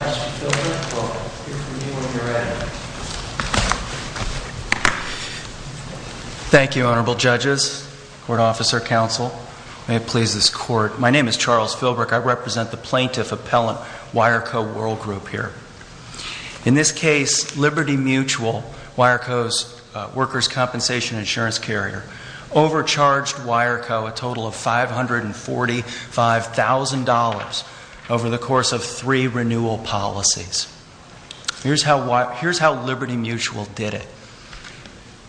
My name is Charles Filbreck. I represent the Plaintiff Appellant WireCo WorldGroup here. In this case, Liberty Mutual, WireCo's workers' compensation insurance carrier, overcharged WireCo a total of $545,000 over the course of three renewal policies. Here's how Liberty Mutual did it.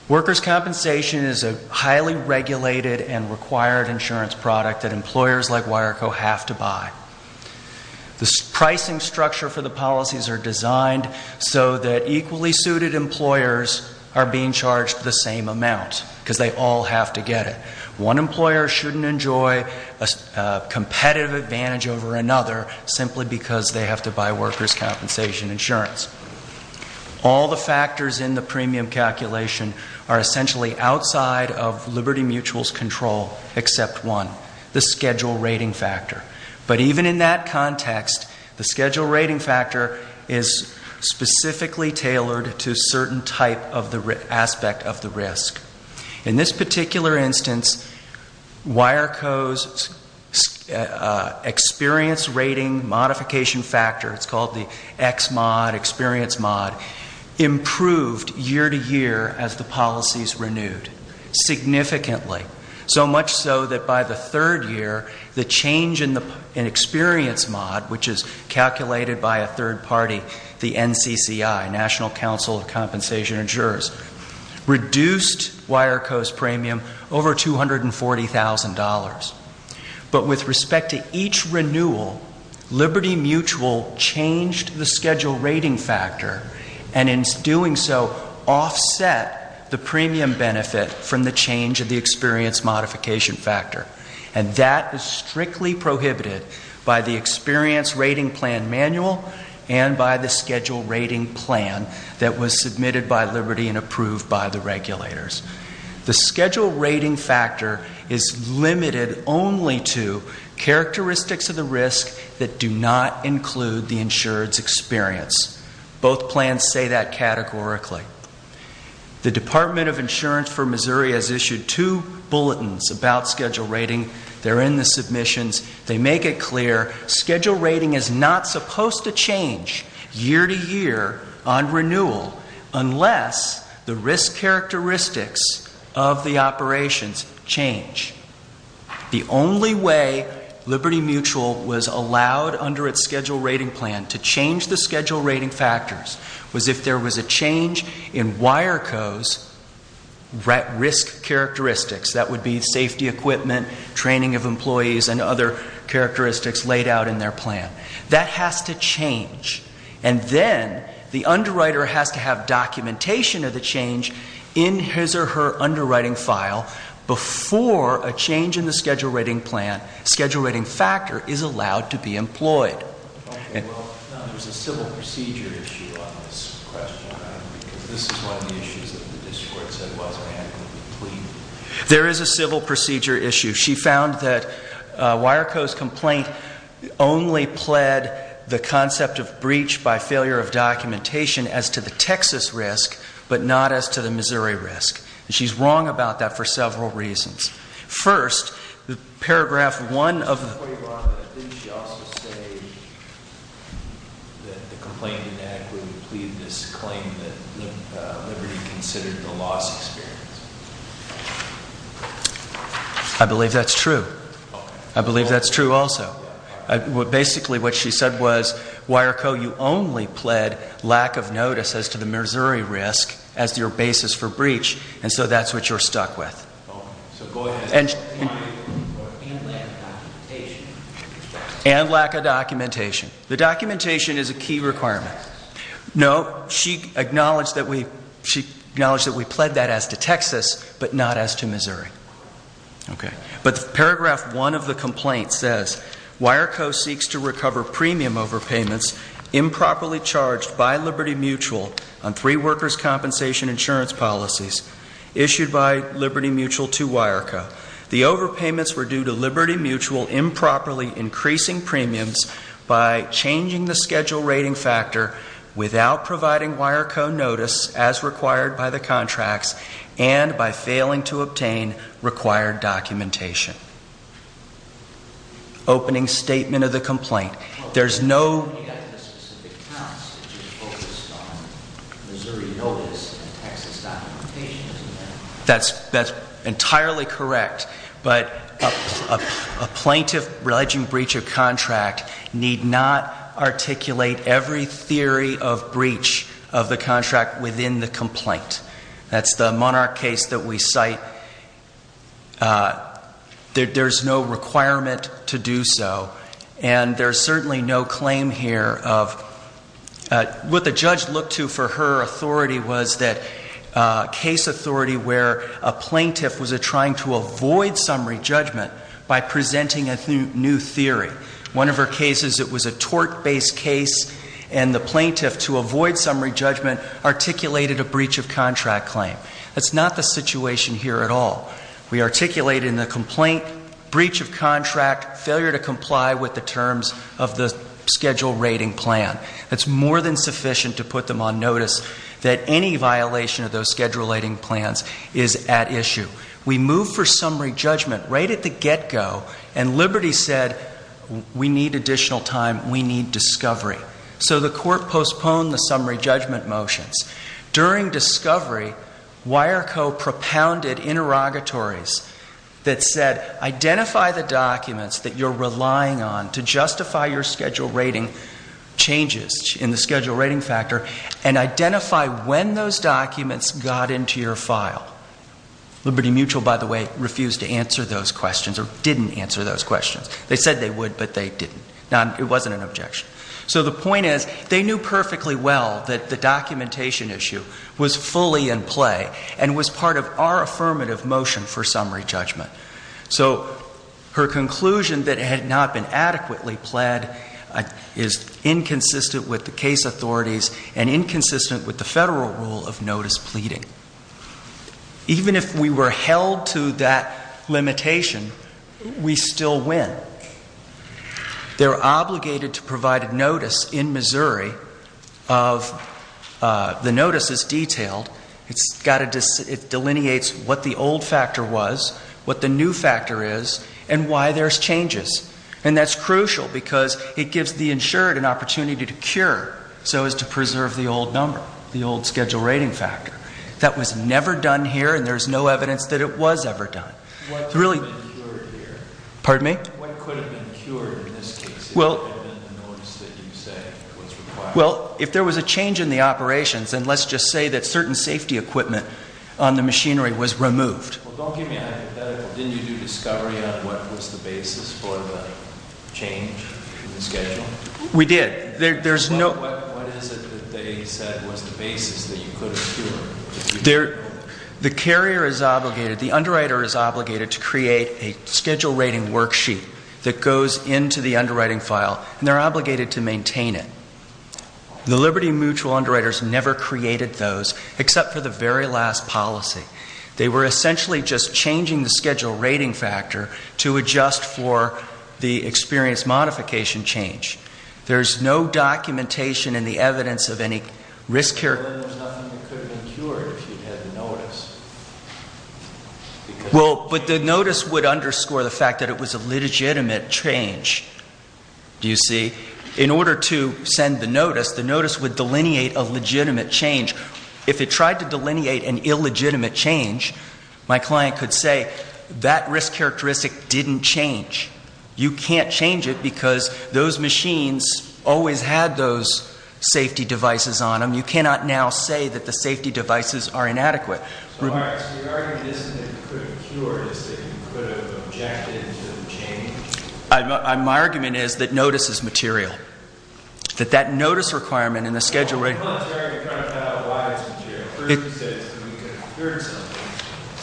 Workers' compensation is a highly regulated and required insurance product that employers like WireCo have to buy. The pricing structure for the policies are designed so that equally suited employers are being charged the same amount because they all have to get it. One employer shouldn't enjoy a competitive advantage over another simply because they have to buy workers' compensation insurance. All the factors in the premium calculation are essentially outside of Liberty Mutual's control except one, the schedule rating factor. But even in that context, the schedule rating factor is specifically tailored to a certain type of the aspect of the risk. In this particular instance, WireCo's experience rating modification factor, it's called the XMOD, experience mod, improved year to year as the policies renewed significantly. So much so that by the third year, the change in experience mod, which is calculated by a third party, the NCCI, National Council of Compensation Insurers, reduced WireCo's premium over $240,000. But with respect to each renewal, Liberty Mutual changed the schedule rating factor and in doing so offset the premium benefit from the change of the experience modification factor. And that is strictly prohibited by the experience rating plan manual and by the schedule rating plan that was submitted by Liberty and approved by the regulators. The schedule rating factor is limited only to characteristics of the risk that do not include the insured's experience. Both plans say that categorically. The Department of Insurance for Missouri has issued two bulletins about schedule rating. They're in the submissions. They make it clear schedule rating is not supposed to change year to year on renewal unless the risk characteristics of the operations change. The only way Liberty Mutual was allowed under its schedule rating plan to change the was if there was a change in WireCo's risk characteristics. That would be safety equipment, training of employees, and other characteristics laid out in their plan. That has to change. And then the underwriter has to have documentation of the change in his or her underwriting file before a change in the schedule rating plan, schedule rating factor, is allowed to be employed. There is a civil procedure issue. She found that WireCo's complaint only pled the concept of breach by failure of documentation as to the Texas risk, but not as to the Missouri risk. And she's wrong about that for several reasons. First, paragraph one of the... I believe that's true. I believe that's true also. Basically what she said was, WireCo, you only pled lack of notice as to the And lack of documentation. The documentation is a key requirement. No, she acknowledged that we pled that as to Texas, but not as to Missouri. But paragraph one of the complaint says, WireCo seeks to recover premium overpayments improperly charged by Liberty Mutual on three workers' compensation insurance policies issued by Liberty Mutual to WireCo. The overpayments were due to Liberty Mutual improperly increasing premiums by changing the schedule rating factor without providing WireCo notice as required by the contracts and by failing to obtain required documentation. Opening statement of the complaint. There's no... You got the specific counts, which is focused on Missouri notice and Texas documentation, isn't there? That's entirely correct, but a plaintiff alleging breach of contract need not articulate every theory of There's no requirement to do so, and there's certainly no claim here of... What the judge looked to for her authority was that case authority where a plaintiff was trying to avoid summary judgment by presenting a new theory. One of her cases, it was a tort-based case, and the plaintiff, to avoid summary judgment, articulated a here at all. We articulated in the complaint, breach of contract, failure to comply with the terms of the schedule rating plan. That's more than sufficient to put them on notice that any violation of those schedule rating plans is at issue. We moved for summary judgment right at the get-go, and Liberty said, we need additional time, we need discovery. So the court postponed the summary judgment motions. During discovery, Wireco propounded interrogatories that said, identify the documents that you're relying on to justify your schedule rating changes in the schedule rating factor, and identify when those documents got into your file. Liberty Mutual, by the way, refused to answer those questions, or didn't answer those questions. They said they would, but they didn't. It wasn't an objection. So the point is, they knew perfectly well that the case was in play, and was part of our affirmative motion for summary judgment. So her conclusion that it had not been adequately pled is inconsistent with the case authorities, and inconsistent with the federal rule of notice pleading. Even if we were held to that limitation, we still win. They're obligated to provide a notice in Missouri of, the notice is detailed, it delineates what the old factor was, what the new factor is, and why there's changes. And that's crucial, because it gives the insured an opportunity to cure, so as to preserve the old number, the old schedule rating factor. That was never done here, and there's no evidence that it was ever done. What could have been cured here? Pardon me? What could have been cured in this case, if it had been the notice that you say was required? Well, if there was a change in the operations, then let's just say that certain safety equipment on the machinery was removed. Well, don't get me hypothetical. Didn't you do discovery on what was the basis for the change in the schedule? We did. There's no... What is it that they said was the basis that you could have cured? The carrier is obligated, the underwriter is obligated to create a schedule rating worksheet that goes into the underwriting file, and they're obligated to maintain it. The Liberty Mutual underwriters never created those, except for the very last policy. They were essentially just changing the schedule rating factor to adjust for the experience modification change. There's no documentation in the evidence of any risk... Well, but the notice would underscore the fact that it was a legitimate change, do you see? In order to send the notice, the notice would delineate a legitimate change. If it tried to delineate an illegitimate change, my client could say, that risk characteristic didn't change. You can't change it because those machines always had those safety devices on them. You cannot now say that the safety devices are inadequate. So your argument isn't that you could have cured, it's that you could have objected to the change? My argument is that notice is material. That that notice requirement and the schedule rating... Well, I'm not trying to cut out why it's material. First, you said it's because you could have cured something.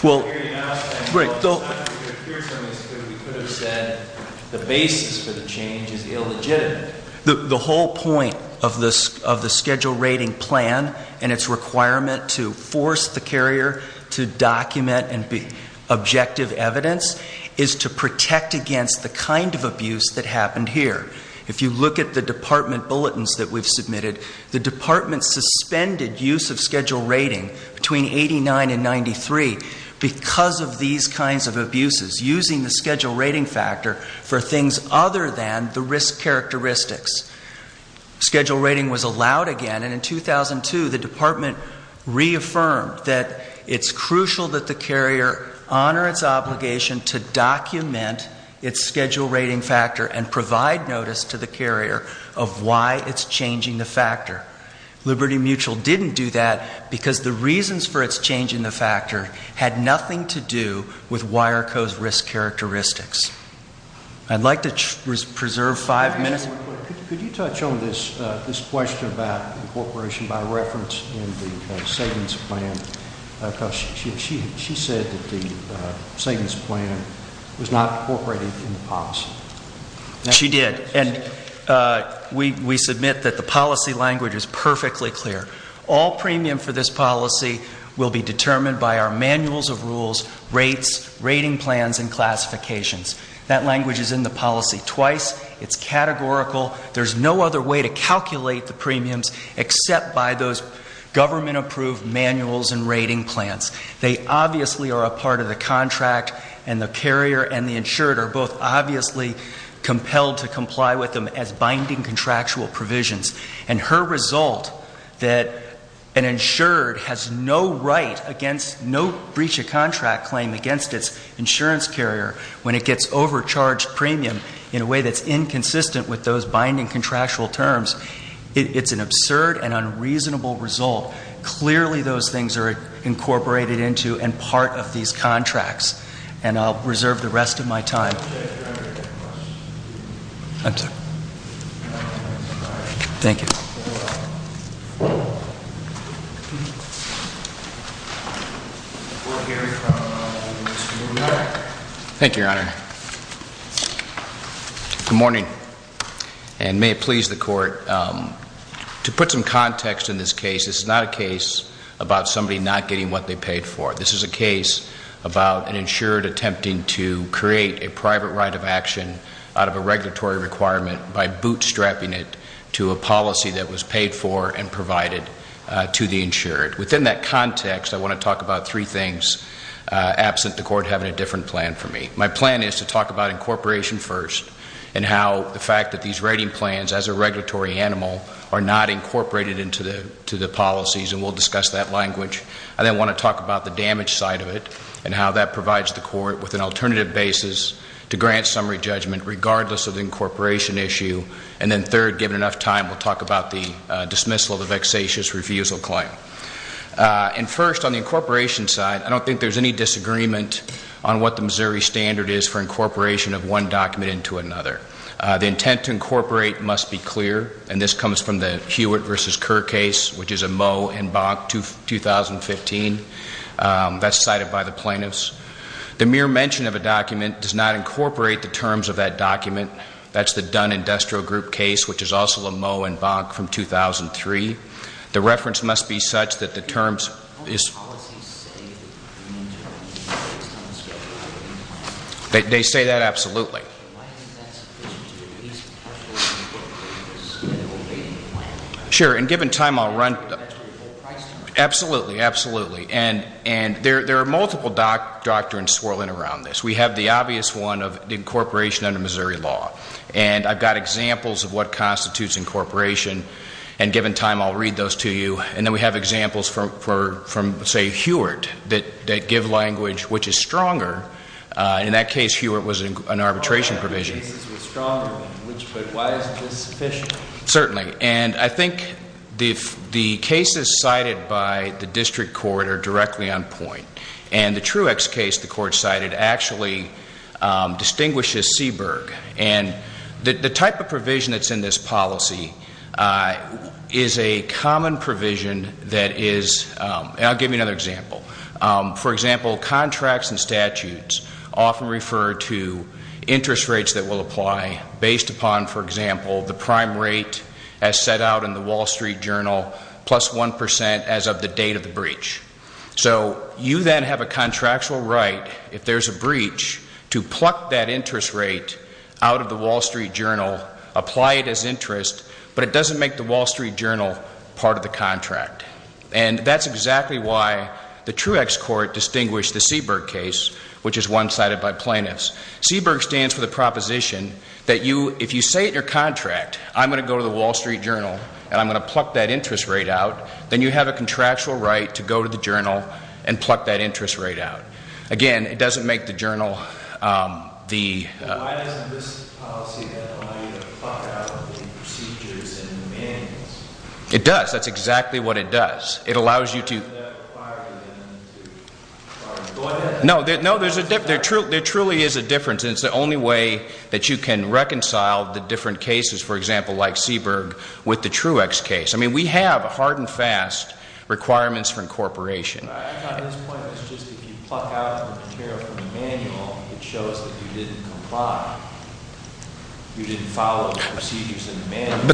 I'm not trying to cure something because we could have said the basis for the change is illegitimate. The whole point of the schedule rating plan and its requirement to force the carrier to document and be objective evidence is to protect against the kind of abuse that happened here. If you look at the department 2003, because of these kinds of abuses, using the schedule rating factor for things other than the risk characteristics. Schedule rating was allowed again, and in 2002, the department reaffirmed that it's crucial that the carrier honor its obligation to document its schedule rating factor and provide notice to the carrier of why it's changing the factor. Liberty Mutual didn't do that because the reasons for its changing the factor had nothing to do with Wireco's risk characteristics. I'd like to preserve five minutes. Could you touch on this question about incorporation by reference in the savings plan? Because she said that the savings plan was not incorporated in the policy. She did, and we submit that the policy language is perfectly clear. All premium for this policy will be manuals of rules, rates, rating plans, and classifications. That language is in the policy twice. It's categorical. There's no other way to calculate the premiums except by those government-approved manuals and rating plans. They obviously are a part of the contract, and the carrier and the insured are both obviously compelled to comply with them as binding contractual provisions. And her result that an insured has no right against no breach of contract claim against its insurance carrier when it gets overcharged premium in a way that's inconsistent with those binding contractual terms, it's an absurd and unreasonable result. Clearly those things are incorporated into and part of these contracts, and I'll reserve the rest of my time. Thank you. Thank you, Your Honor. Good morning, and may it please the Court. To put some context in this case, this is not a case about somebody not getting what they paid for. This is a case about an insured attempting to create a private right of action out of a regulatory requirement by bootstrapping it to a policy that was paid for and provided to the insured. Within that context, I want to talk about three things absent the Court having a different plan for me. My plan is to talk about incorporation first and how the fact that these rating plans as a regulatory animal are not incorporated into the policies, and we'll discuss that language. I then want to talk about the damage side of it and how that provides the Court with an alternative basis to grant summary judgment regardless of the incorporation issue. And then third, given enough time, we'll talk about the dismissal of the vexatious refusal claim. And first, on the incorporation side, I don't think there's any disagreement on what the Missouri standard is for incorporation of one document into another. The intent to incorporate must be clear, and this comes from the Hewitt v. Kerr case, which is a Moe and Bonk 2015. That's cited by the plaintiffs. The mere mention of a document does not incorporate the terms of that document. That's the Dunn Industrial Group case, which is also a Moe and Bonk from 2003. The reference must be such that the terms is... Sure. And given time, I'll run... Absolutely, absolutely. And there are multiple doctrines swirling around this. We have the obvious one of incorporation under Missouri law. And I've got examples of what constitutes incorporation. And given time, I'll read those to you. And then we have examples from, say, Hewitt that give language which is stronger. In that case, Hewitt was an arbitration provision. Certainly. And I think the cases cited by the district court are directly on point. And the Truex case the court cited actually distinguishes Seaberg. And the type of provision that's in this policy is a common provision that is... And I'll give you another example. For example, contracts and statutes often refer to interest rates that will apply based upon, for example, the prime rate as set out in the Wall Street Journal plus 1% as of the date of the breach. So you then have a contractual right, if there's a breach, to pluck that interest rate out of the Wall Street Journal, apply it as interest, but it doesn't make the Wall Street Journal part of the contract. And that's exactly why the Truex court distinguished the Seaberg case, which is one that was cited by plaintiffs. Seaberg stands for the proposition that if you say in your contract, I'm going to go to the Wall Street Journal and I'm going to pluck that interest rate out, then you have a contractual right to go to the Journal and pluck that interest rate out. Again, it doesn't make the Journal the... It does. That's exactly what it does. It allows you to... No, there truly is a difference. It's the only way that you can reconcile the different cases, for example, like Seaberg, with the Truex case. I mean, we have hard and fast requirements for incorporation. But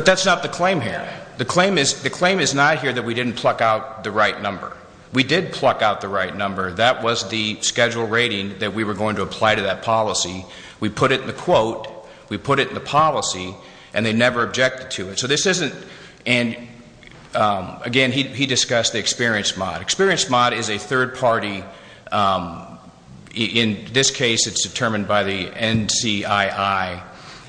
that's not the claim here. The claim is not here that we didn't pluck out the right number. We did pluck out the right number. That was the schedule rating that we were going to apply to that policy. We put it in the quote. We put it in the policy, and they never objected to it. So this isn't... Again, he discussed the experience mod. Experience mod is a third party... In this case, it's determined by the NCII,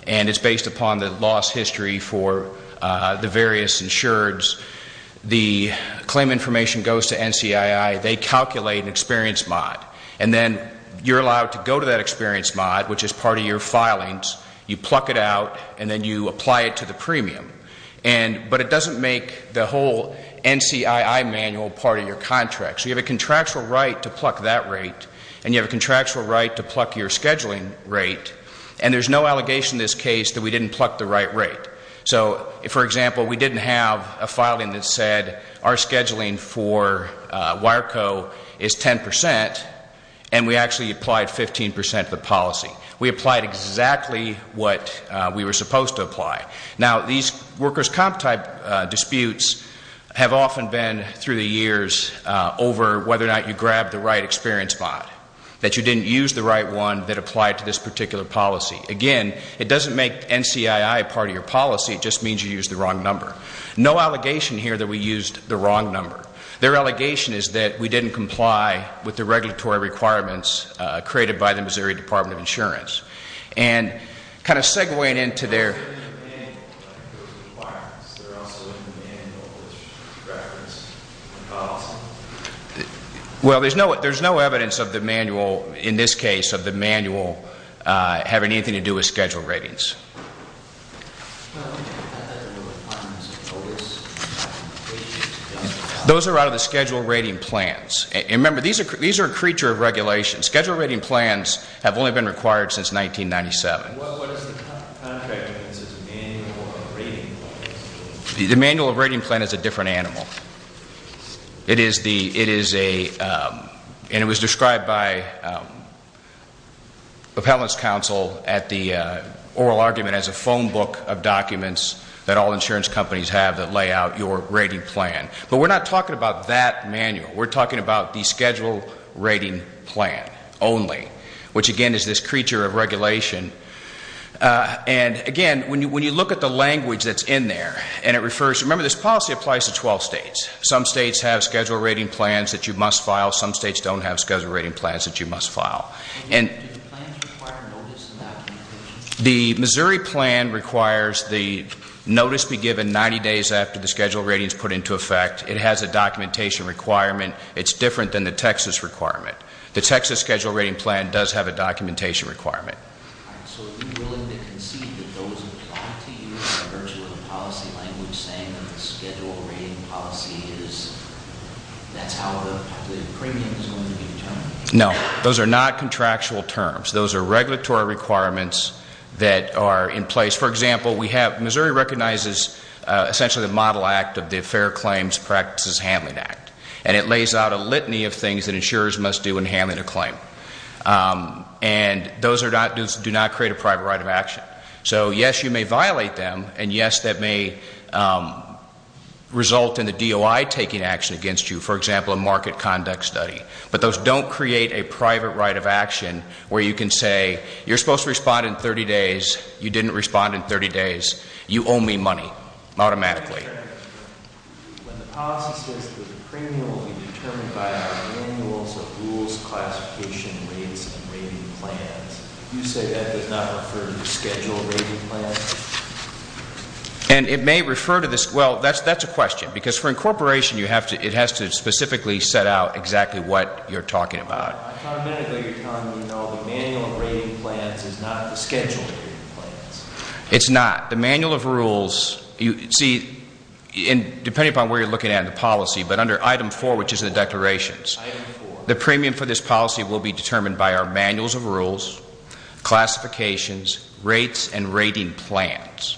and it's based upon the loss history for the various insureds. The claim information goes to NCII. They calculate an experience mod, and then you're allowed to go to that experience mod, which is part of your filings. You pluck it out, and then you apply it to the premium. But it doesn't make the whole NCII manual part of your contract. So you have a contractual right to pluck that rate, and you have a contractual right to For example, we didn't have a filing that said our scheduling for Wireco is 10%, and we actually applied 15% of the policy. We applied exactly what we were supposed to apply. Now, these workers' comp type disputes have often been, through the years, over whether or not you grabbed the right experience mod, that you didn't use the right one that applied to this particular policy. Again, it doesn't make NCII part of your policy. It just means you used the wrong number. No allegation here that we used the wrong number. Their allegation is that we didn't comply with the regulatory requirements created by the Missouri Department of Insurance. Kind of segueing into their... case of the manual having anything to do with schedule ratings. Those are out of the schedule rating plans. Remember, these are a creature of regulation. Schedule rating plans have only been required since 1997. The manual rating plan is a different animal. It is a... and it was described by appellant's counsel at the oral argument as a phone book of documents that all insurance companies have that lay out your rating plan. But we're not talking about that manual. We're talking about the schedule rating plan only, which again is this creature of regulation. Again, when you look at the language that's in there, and it refers... remember this policy applies to 12 states. Some states have schedule rating plans that you must file. Some states don't have schedule rating plans that you must file. The Missouri plan requires the notice be given 90 days after the schedule rating is put into effect. It has a documentation requirement. It's different than the Texas requirement. The Texas schedule rating plan does have a documentation requirement. So are you willing to concede that those apply to you by virtue of the policy language saying that the schedule rating policy is... that's how the premium is going to be determined? No. Those are not contractual terms. Those are regulatory requirements that are in place. For example, we have... and it lays out a litany of things that insurers must do in handling a claim. And those are not... do not create a private right of action. So yes, you may violate them, and yes, that may result in the DOI taking action against you. For example, a market conduct study. But those don't create a private right of action where you can say you're supposed to respond in 30 days. You owe me money automatically. When the policy says that the premium will be determined by our manuals of rules, classification, rates, and rating plans, you say that does not refer to the schedule rating plans? And it may refer to this... well, that's a question. Because for incorporation, it has to specifically set out exactly what you're talking about. Automatically, you're telling me, though, the manual of rating plans is not the schedule rating plans? It's not. The manual of rules... see, depending upon where you're looking at in the policy, but under item 4, which is the declarations, the premium for this policy will be determined by our manuals of rules, classifications, rates, and rating plans.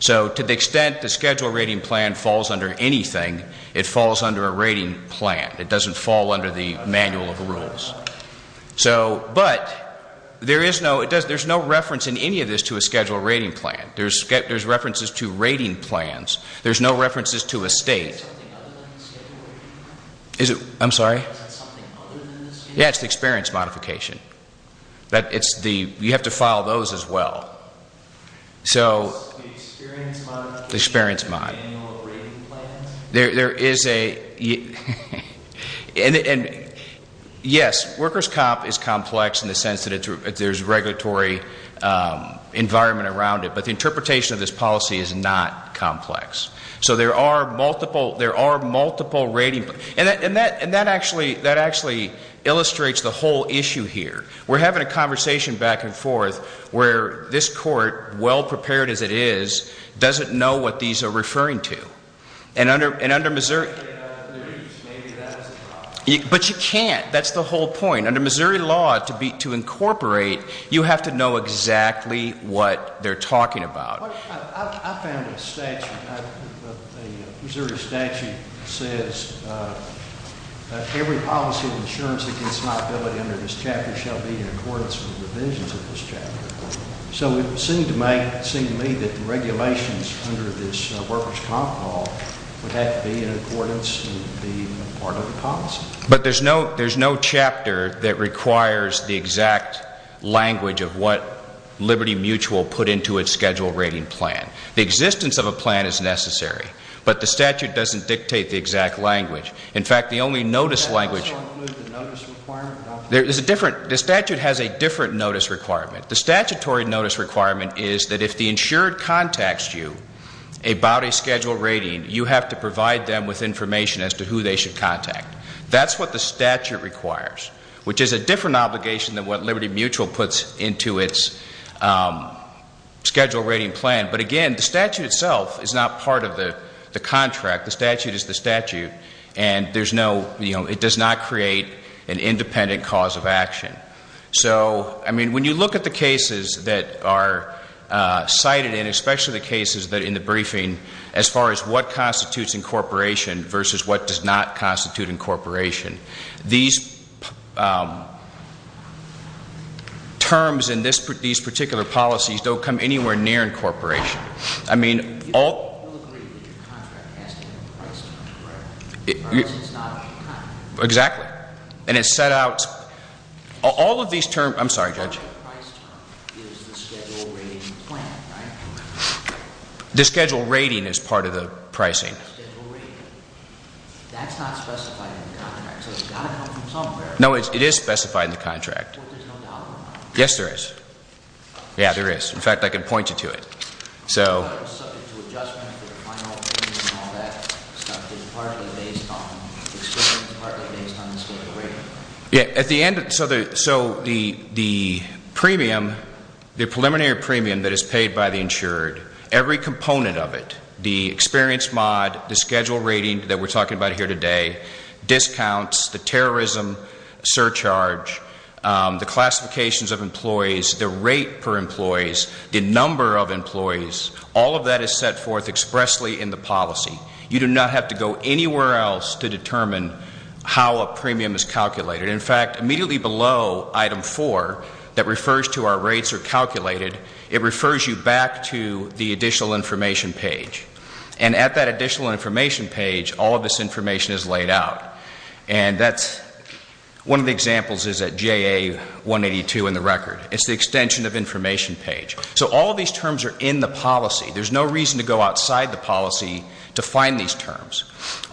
So to the extent the schedule rating plan falls under anything, it falls under a rating plan. It doesn't fall under the manual of rules. But there's no reference in any of this to a schedule rating plan. There's references to rating plans. There's no references to a state. I'm sorry? Yeah, it's the experience modification. You have to file those as well. The experience modification of the manual of rating plans? Yes, workers' comp is complex in the sense that there's regulatory environment around it. But the interpretation of this policy is not complex. So there are multiple rating plans. And that actually illustrates the whole issue here. We're having a conversation back and forth where this court, well prepared as it is, doesn't know what these are referring to. But you can't. That's the whole point. Under Missouri law, to incorporate, you have to know exactly what they're talking about. I found a statute. A Missouri statute says every policy of insurance against liability under this chapter shall be in accordance with the provisions of this chapter. So it seemed to me that the regulations under this workers' comp law would have to be in accordance with the part of the policy. But there's no chapter that requires the exact language of what Liberty Mutual put into its schedule rating plan. The existence of a plan is necessary. But the statute doesn't dictate the exact language. In fact, the only notice language The statute has a different notice requirement. The statutory notice requirement is that if the insured contacts you about a schedule rating, you have to provide them with information as to who they should contact. That's what the statute requires, which is a different obligation than what Liberty Mutual puts into its schedule rating plan. But again, the statute itself is not part of the contract. The statute is the statute. And there's no, you know, it does not create an independent cause of action. So, I mean, when you look at the cases that are cited, and especially the cases that in the briefing, as far as what constitutes incorporation versus what does not constitute incorporation, these terms in these particular policies don't come anywhere near incorporation. I mean, all Exactly. And it set out all of these terms. I'm sorry, Judge. The schedule rating is part of the pricing. No, it is specified in the contract. Yes, there is. Yeah, there is. In fact, I can point you to it. Yeah, at the end, so the premium, the preliminary premium that is paid by the insured, every component of it, the experience mod, the schedule rating that we're talking about here today, discounts, the terrorism surcharge, the classifications of employees, the rate per employees, the number of employees, all of that is set forth expressly in the policy. You do not have to go anywhere else to determine how a premium is calculated. In fact, immediately below item four, that refers to our rates are calculated, it refers you back to the additional information page. And at that additional information page, all of this information is laid out. And that's one of the examples is at JA 182 in the record. It's the extension of information page. So all of these terms are in the policy. There's no reason to go outside the policy to find these terms.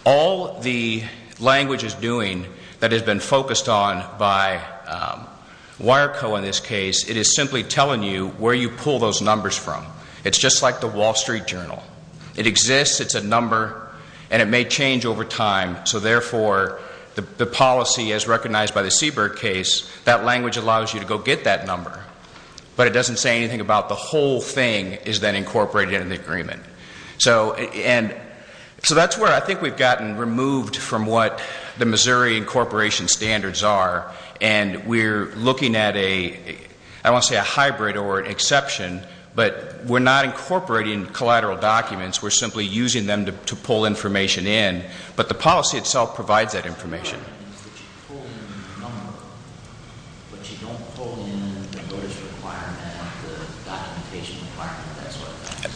All the language is doing that has been focused on by Wireco in this case, it is simply telling you where you pull those numbers from. It's just like the Wall Street Journal. It exists, it's a number, and it may change over time. So therefore, the policy as recognized by the Seabird case, that language allows you to go get that number. But it doesn't say anything about the whole thing is then incorporated into the agreement. So that's where I think we've gotten removed from what the Missouri incorporation standards are. And we're looking at a, I won't say a hybrid or an exception, but we're not incorporating collateral documents. We're simply using them to pull information in. But the policy itself provides that information.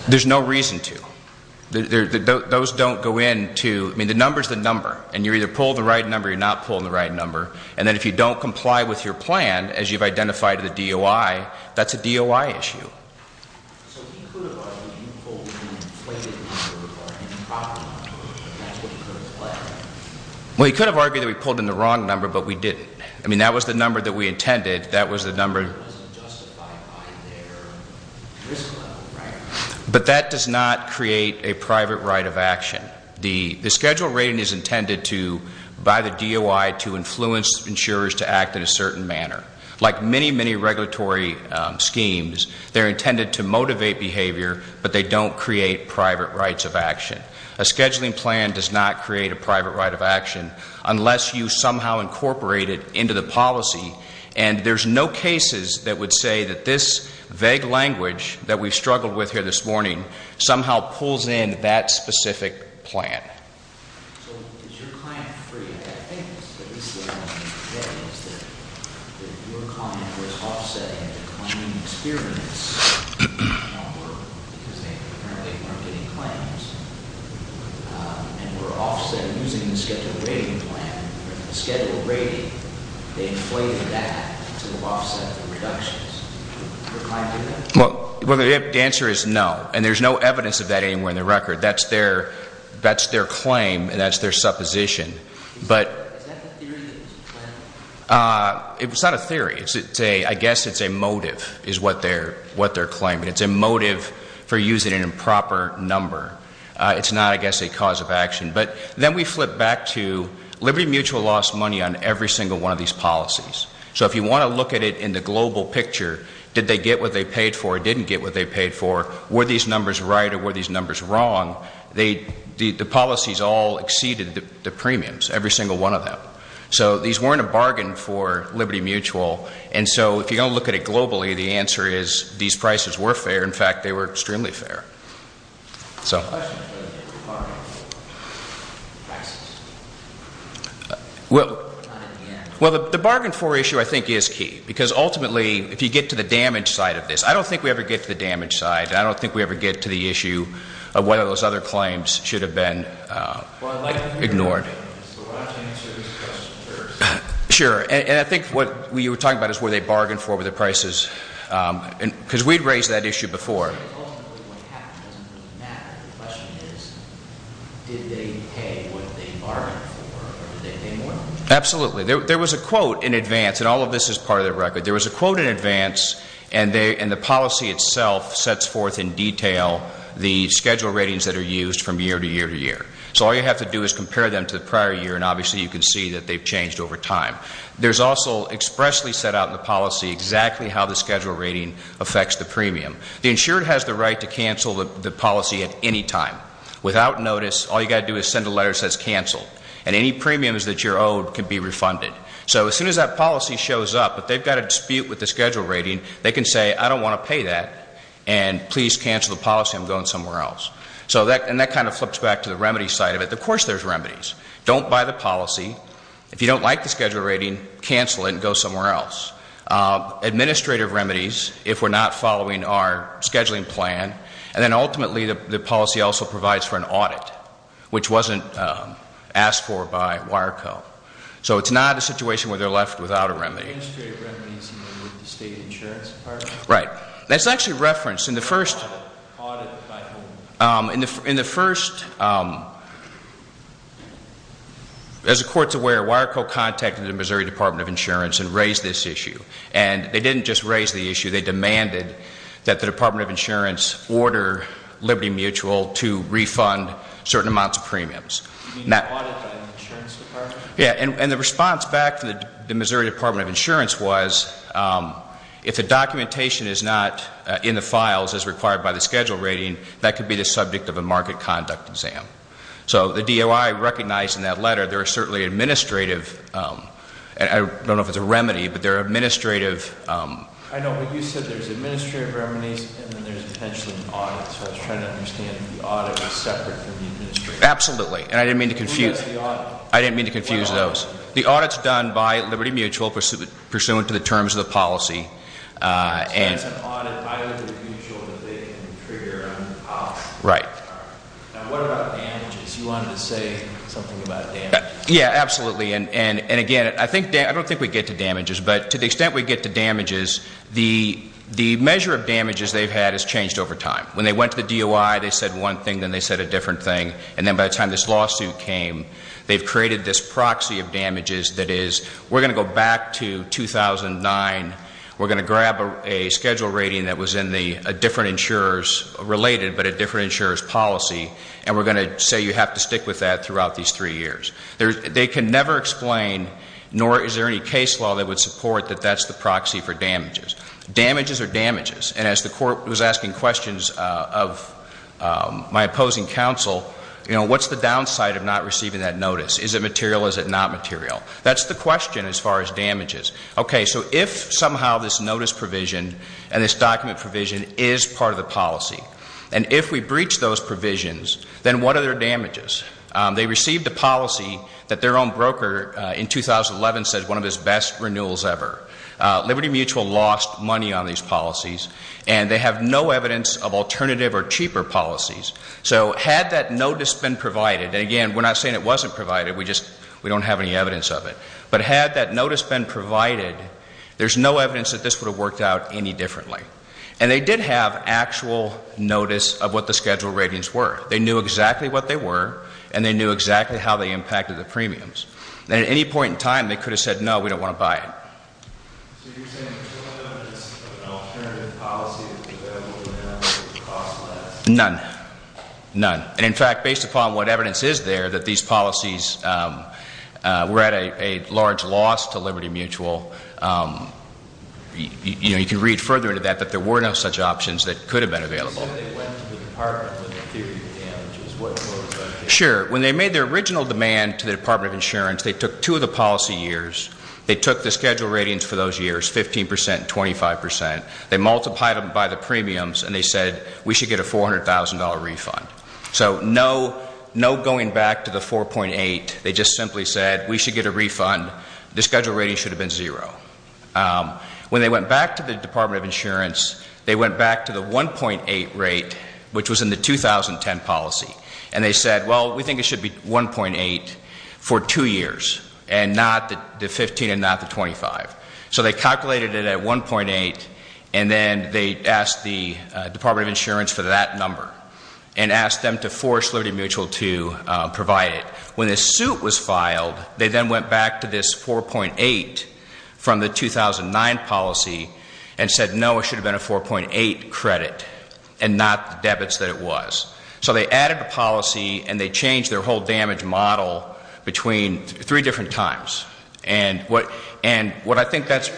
There's no reason to. Those don't go into, I mean the number's the number. And you either pull the right number or you're not pulling the right number. And then if you don't comply with your plan as you've identified to the DOI, that's a DOI issue. Well, you could have argued that we pulled in the wrong number, but we didn't. I mean, that was the number that we intended. That was the number But that does not create a private right of action. The schedule rating is intended to, by the DOI, to influence insurers to act in a certain manner. Like many, many regulatory schemes, they're intended to motivate behavior, but they don't create private rights of action. A scheduling plan does not create a private right of action unless you somehow incorporate it into the policy. And there's no cases that would say that this vague language that we've struggled with here this morning somehow pulls in that specific plan. Well, the answer is no. And there's no evidence of that anywhere in the record. That's their claim and that's their supposition. Is that the theory of this plan? It's not a theory. I guess it's a motive, is what they're claiming. It's a motive that they're claiming. It's a motive for using an improper number. It's not, I guess, a cause of action. But then we flip back to Liberty Mutual lost money on every single one of these policies. So if you want to look at it in the global picture, did they get what they paid for or didn't get what they paid for? Were these numbers right or were these numbers wrong? The policies all exceeded the premiums, every single one of them. So these weren't a bargain for Liberty Mutual. And so if you're going to look at it globally, the answer is these prices were fair. In fact, they were extremely fair. Well, the bargain for issue, I think, is key. Because ultimately, if you get to the damage side of this, I don't think we ever get to the damage side. I don't think we ever get to the issue of whether those other claims should have been ignored. Sure. And I think what you were talking about is were they bargained for with the prices. Because we'd raised that issue before. Absolutely. There was a quote in advance. And all of this is part of the record. There was a quote in advance. And the policy itself sets forth in detail the schedule ratings that are used from year to year to year. So all you have to do is compare them to the prior year, and obviously you can see that they've changed over time. There's also expressly set out in the policy exactly how the schedule rating affects the premium. The insurer has the right to cancel the policy at any time. Without notice, all you've got to do is send a letter that says cancel. And any premiums that you're owed can be refunded. So as soon as that policy shows up, if they've got a dispute with the schedule rating, they can say, I don't want to pay that, and please cancel the policy. I'm going somewhere else. And that kind of flips back to the remedy side of it. Of course there's remedies. Don't buy the policy. If you don't like the schedule rating, cancel it and go somewhere else. Administrative remedies, if we're not following our So it's not a situation where they're left without a remedy. Right. That's actually referenced in the first... As the Court's aware, Wireco contacted the Missouri Department of Insurance and raised this issue. And they didn't just raise the issue. They demanded that the Department of Insurance order Liberty Mutual to refund certain amounts of premiums. And the response back to the Missouri Department of Insurance was, if the documentation is not in the files as required by the schedule rating, that could be the subject of a market conduct exam. So the DOI recognized in that letter there are certainly administrative... I don't know if it's a remedy, but there are potentially an audit. So I was trying to understand if the audit was separate from the administrative audit. Absolutely. And I didn't mean to confuse those. The audit's done by Liberty Mutual pursuant to the terms of the policy. So there's an audit by Liberty Mutual that they can trigger on the policy. Now what about damages? You wanted to say something about damages. Yeah, absolutely. And again, I don't think we get to damages. But to the extent we get to damages, the measure of damages they've had has changed over time. When they went to the DOI, they said one thing, then they said a different thing. And then by the time this lawsuit came, they've created this proxy of damages that is, we're going to go back to 2009. We're going to grab a schedule rating that was in a different insurer's policy. And we're going to say you have to stick with that throughout these three years. They can never explain, nor is there any case law that would support that that's the proxy for damages. Damages are damages. And as the Court was asking questions of my opposing counsel, what's the downside of not receiving that notice? Is it material? Is it not material? That's the question as far as damages. Okay, so if somehow this notice provision and this document provision is part of the policy, and if we breach those provisions, then what are their damages? They received a policy that their own broker in 2011 says one of his best renewals ever. Liberty Mutual lost money on these policies, and they have no evidence of alternative or cheaper policies. So had that notice been provided, there's no evidence that this would have worked out any differently. And they did have actual notice of what the schedule ratings were. They knew exactly what they were, and they knew exactly how they impacted the premiums. And at any point in time, they could have said no, we don't want to buy it. So you're saying there's no evidence of an alternative policy that would cost less? None. None. And in fact, based upon what evidence is there, that these policies were at a large loss to Liberty Mutual. You know, you can read further into that that there were no such options that could have been available. Sure. When they made their original demand to the Department of Insurance, they took two of the policy years. They took the schedule ratings for those years, 15% and 25%. They multiplied them by the premiums, and they said we should get a $400,000 refund. So no going back to the 4.8. They just simply said we should get a refund. The schedule rating should have been zero. When they went back to the Department of Insurance, they went back to the 1.8 rate, which was in the 2010 policy. And they said, well, we think it should be 1.8 for two years, and not the 15 and not the 25. So they calculated it at 1.8, and then they asked the Department of Insurance for that number and asked them to force Liberty Mutual to provide it. When the suit was filed, they then went back to this 4.8 from the 2009 policy and said, no, it should have been a 4.8 credit and not the debits that it was. So they added the policy, and they I think that's...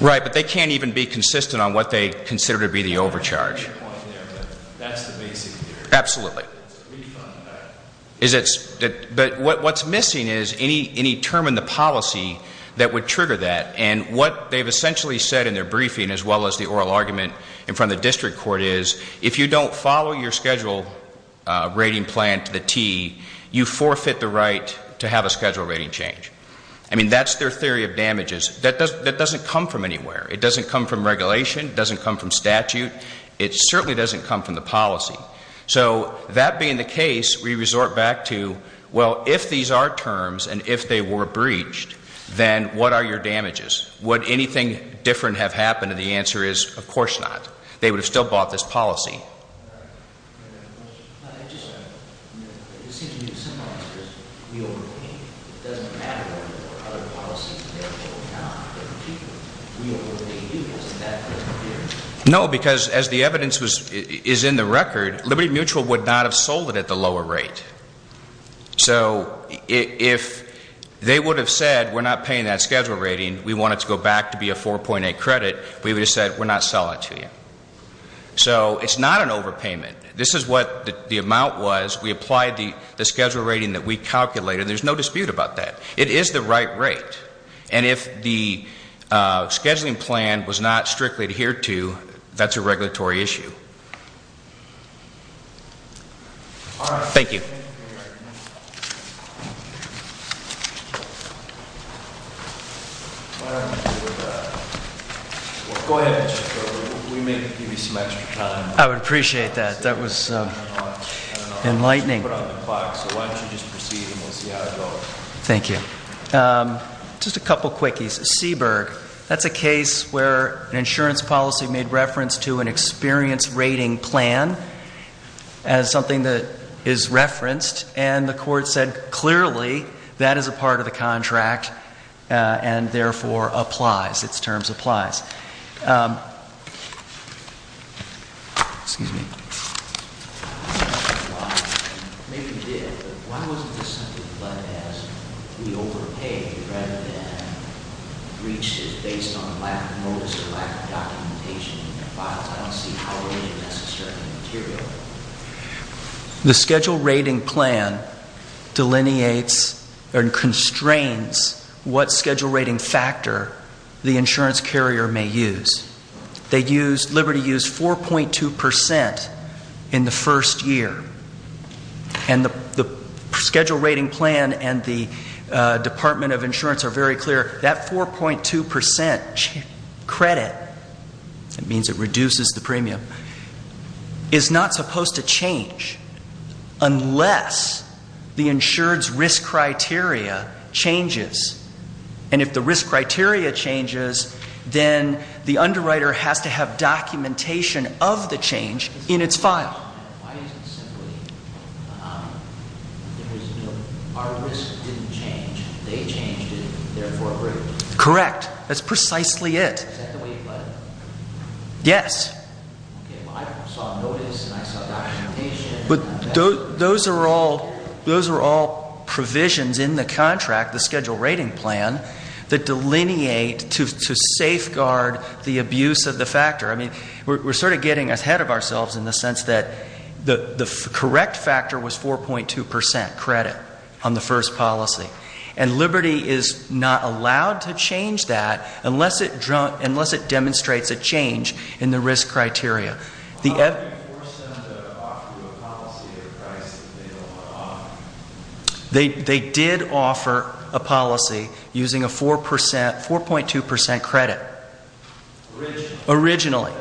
Right, but they can't even be consistent on what they consider to be the overcharge. Absolutely. But what's missing is any term in the policy that would trigger that, and what they've essentially said in their briefing as well as the oral argument in front of the district court is, if you don't follow your schedule rating plan to the T, you forfeit the right to have a schedule rating change. I mean, that's their theory of damages. That doesn't come from anywhere. It doesn't come from regulation. It doesn't come from statute. It certainly doesn't come from the policy. So that being the case, we resort back to, well, if these are terms, and if they were breached, then what are your damages? Would anything different have happened? And the answer is, of course not. They would have still bought this policy. I just want to... No, because as the So if they would have said, we're not paying that schedule rating, we want it to go back to be a 4.8 credit, we would have said, we're not selling it to you. So it's not an overpayment. This is what the amount was. We applied the schedule rating that we calculated. There's no dispute about that. It is the right rate. And if the scheduling plan was not strictly adhered to, that's a regulatory issue. Thank you. I would appreciate that. That was enlightening. Thank you. Just a couple quickies. Seaburg, that's a case where an insurance policy made reference to an experience rating plan as something that is referenced. And the Court said clearly that is a part of the contract and therefore applies. Its terms applies. Excuse me. The schedule rating plan delineates or constrains what schedule rating factor the insurance carrier may use. They use, Liberty used 4.2% in the first year. And the schedule rating plan and the Department of Insurance are very clear, that 4.2% credit means it reduces the premium, is not supposed to change unless the insured's risk criteria changes. And if the risk criteria changes, then the underwriter has to have documentation of the change in its file. Correct. That's precisely it. Yes. But those are all provisions in the contract, the schedule rating plan, that delineate to safeguard the abuse of the factor. We're sort of getting ahead of ourselves in the sense that the correct factor was 4.2% credit on the first policy. And Liberty is not allowed to change that unless it demonstrates a change in the risk criteria. How do you force them to offer a policy at a price that they don't want to offer? They did offer a policy using a 4.2% credit. Originally.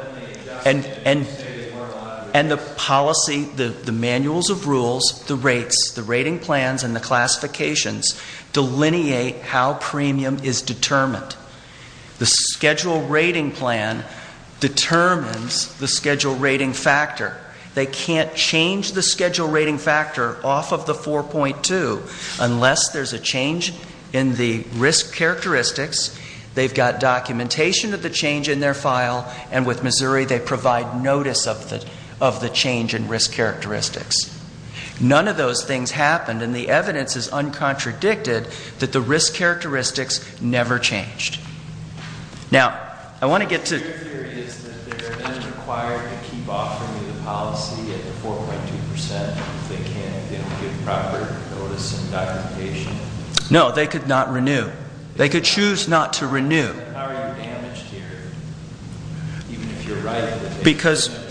And the policy, the manuals of rules, the rates, the rating plans and the classifications delineate how premium is determined. The schedule rating plan determines the schedule rating factor. They can't change the schedule rating factor off of the 4.2% unless there's a change in the risk characteristics. They've got documentation of the change in their file. And with Missouri, they provide notice of the change in risk characteristics. None of those things happened. And the evidence is uncontradicted that the risk characteristics never changed. Now, I want to get to... Your theory is that they're then required to keep offering the policy at the 4.2% if they can't get proper notice and documentation. No, they could not renew. They could choose not to renew. How are you damaged here? Because...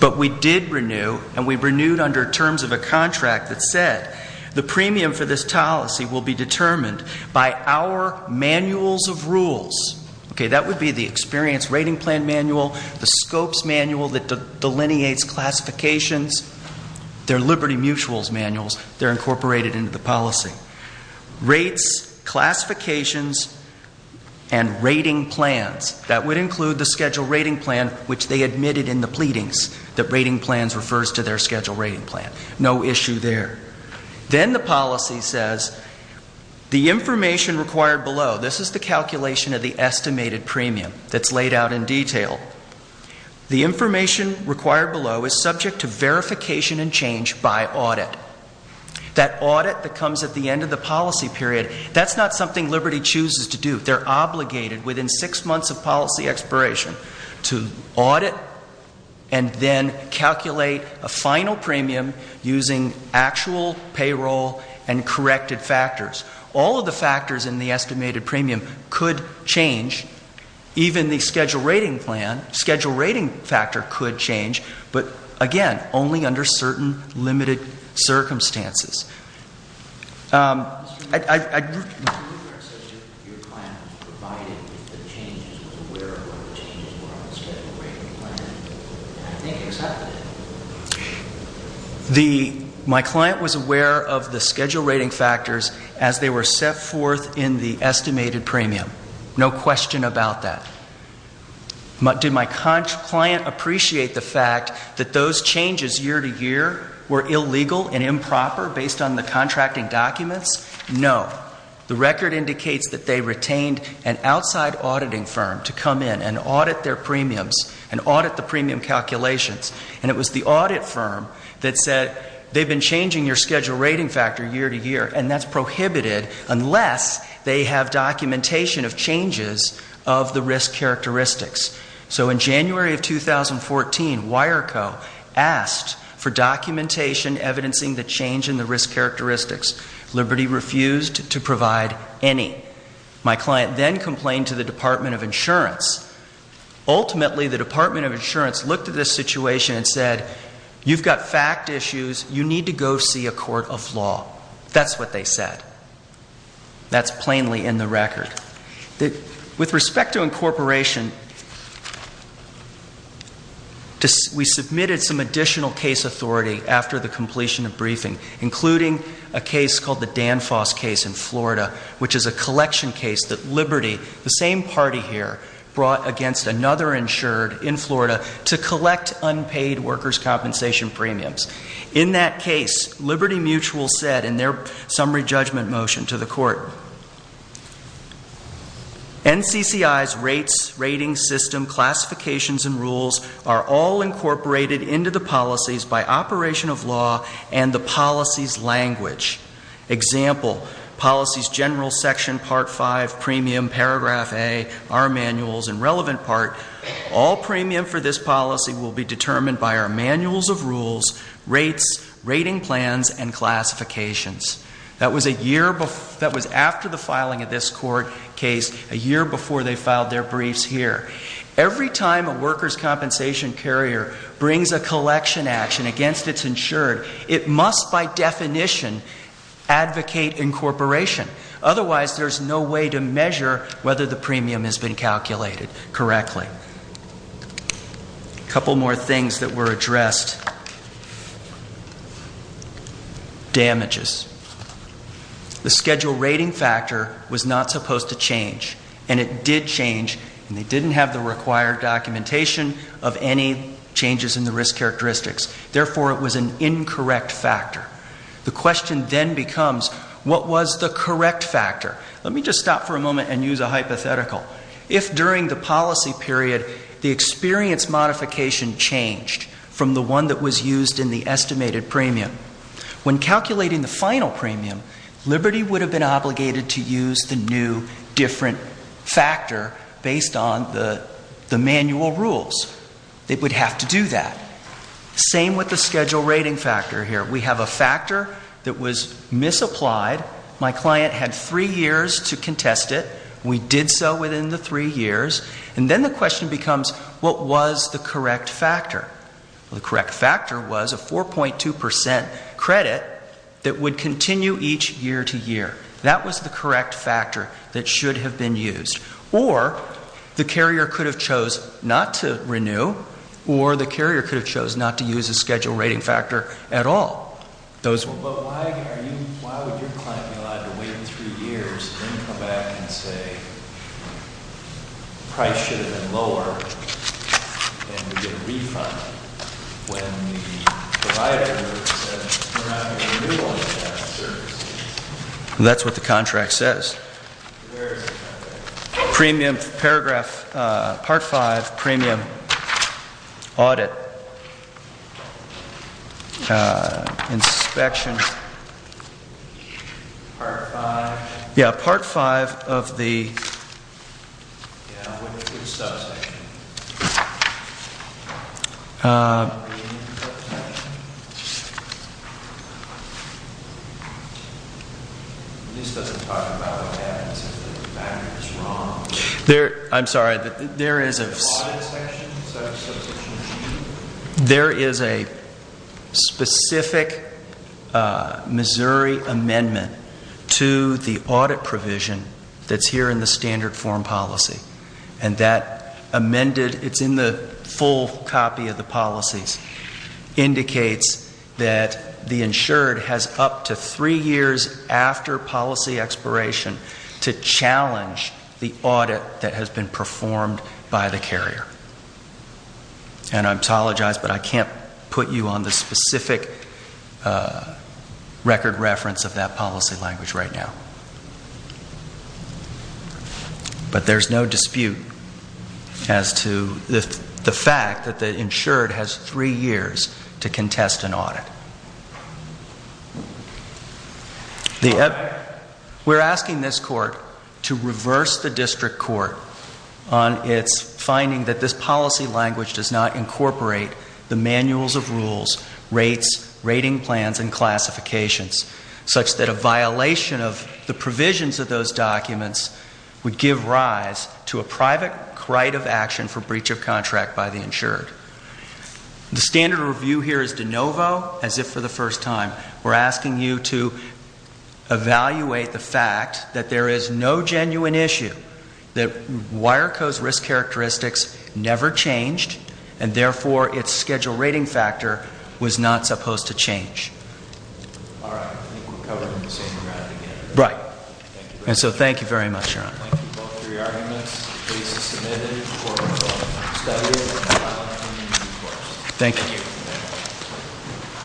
But we did renew and we renewed under terms of a contract that said the premium for this policy will be determined by our manuals of rules. Okay, that would be the experience rating plan manual, the scopes manual that rates, classifications, and rating plans. That would include the schedule rating plan, which they admitted in the pleadings that rating plans refers to their schedule rating plan. No issue there. Then the policy says the information required below, this is the calculation of the estimated premium that's laid out in detail. The information required below is subject to verification and change by audit. That audit that comes at the end of the policy period, that's not something Liberty chooses to do. They're obligated within six months of policy expiration to audit and then calculate a final premium using actual payroll and corrected factors. All of the factors in the estimated premium could change, even the schedule rating plan, schedule rating factor could change, but again, only under certain limited circumstances. I...... My client was aware of the schedule rating factors as they were set forth in the estimated premium. No question about that. Did my client appreciate the fact that those changes year to year were illegal and improper based on the contracting documents? No. The record indicates that they retained an outside auditing firm to come in and audit their premiums and audit the premium calculations, and it was the audit firm that said they've been changing your schedule rating factor year to year, and that's prohibited unless they have documentation of changes of the risk characteristics. Liberty refused to provide any. My client then complained to the Department of Insurance. Ultimately, the Department of Insurance looked at this situation and said, you've got fact issues, you need to go see a court of law. That's what they said. That's plainly in the record. With respect to incorporation, we submitted some additional case authority after the completion of briefing, including a case called the Danfoss case in Florida, which is a collection case that Liberty, the same party here, brought against another insured in Florida to collect unpaid workers' compensation premiums. In that case, Liberty Mutual said in their summary judgment motion to the court, NCCI's rates, rating system, classifications, and rules are all incorporated into the policies by operation of law and the policy's language. Example, policy's general section, part five, premium, paragraph A, our manuals, and relevant part, all premium for this policy will be That was a year before, that was after the filing of this court case, a year before they filed their briefs here. Every time a workers' compensation carrier brings a collection action against its insured, it must, by definition, advocate incorporation. Otherwise, there's no way to measure whether the premium has been calculated correctly. A couple more things that were addressed. Damages. The schedule rating factor was not supposed to change, and it did change, and they didn't have the required documentation of any changes in the risk characteristics. Therefore, it was an incorrect factor. The question then becomes, what was the correct experience modification changed from the one that was used in the estimated premium? When calculating the final premium, Liberty would have been obligated to use the new, different factor based on the manual rules. They would have to do that. Same with the schedule rating factor here. We have a factor that was misapplied. My client had three years to contest it. We did so within the three years. And then the question becomes, what was the correct factor? The correct factor was a 4.2 percent credit that would continue each year to year. That was the correct factor that should have been used. Or the carrier could have chose not to renew, or the carrier could have chose not to use the schedule rating factor at all. That's what the contract says. Part 5, premium audit inspection. Yeah, part 5 of the... I'm sorry, there is a... There is a specific Missouri amendment to the audit provision that's here in the standard form policy. And that amended, it's in the full copy of the policies, indicates that the insured has up to three years after policy expiration to challenge the audit that has been performed by the carrier. And I apologize, but I can't put you on the specific record reference of that policy language right now. But there's no dispute as to the fact that the insured has three years to contest an audit. We're asking this court to reverse the district court on its finding that this policy language does not incorporate the manuals of rules, rates, rating plans, and classifications, such that a violation of the provisions of those documents would give rise to a private right of action for breach of contract by the insured. The standard review here is de novo, as if for the first time. We're asking you to evaluate the fact that there is no genuine issue, that Wireco's risk characteristics never changed, and therefore its schedule rating factor was not supposed to change. All right. I think we're covering the same ground again. Right. And so thank you very much, Your Honor. Thank you for all three arguments. The case is submitted. Court is open for discussion. Thank you.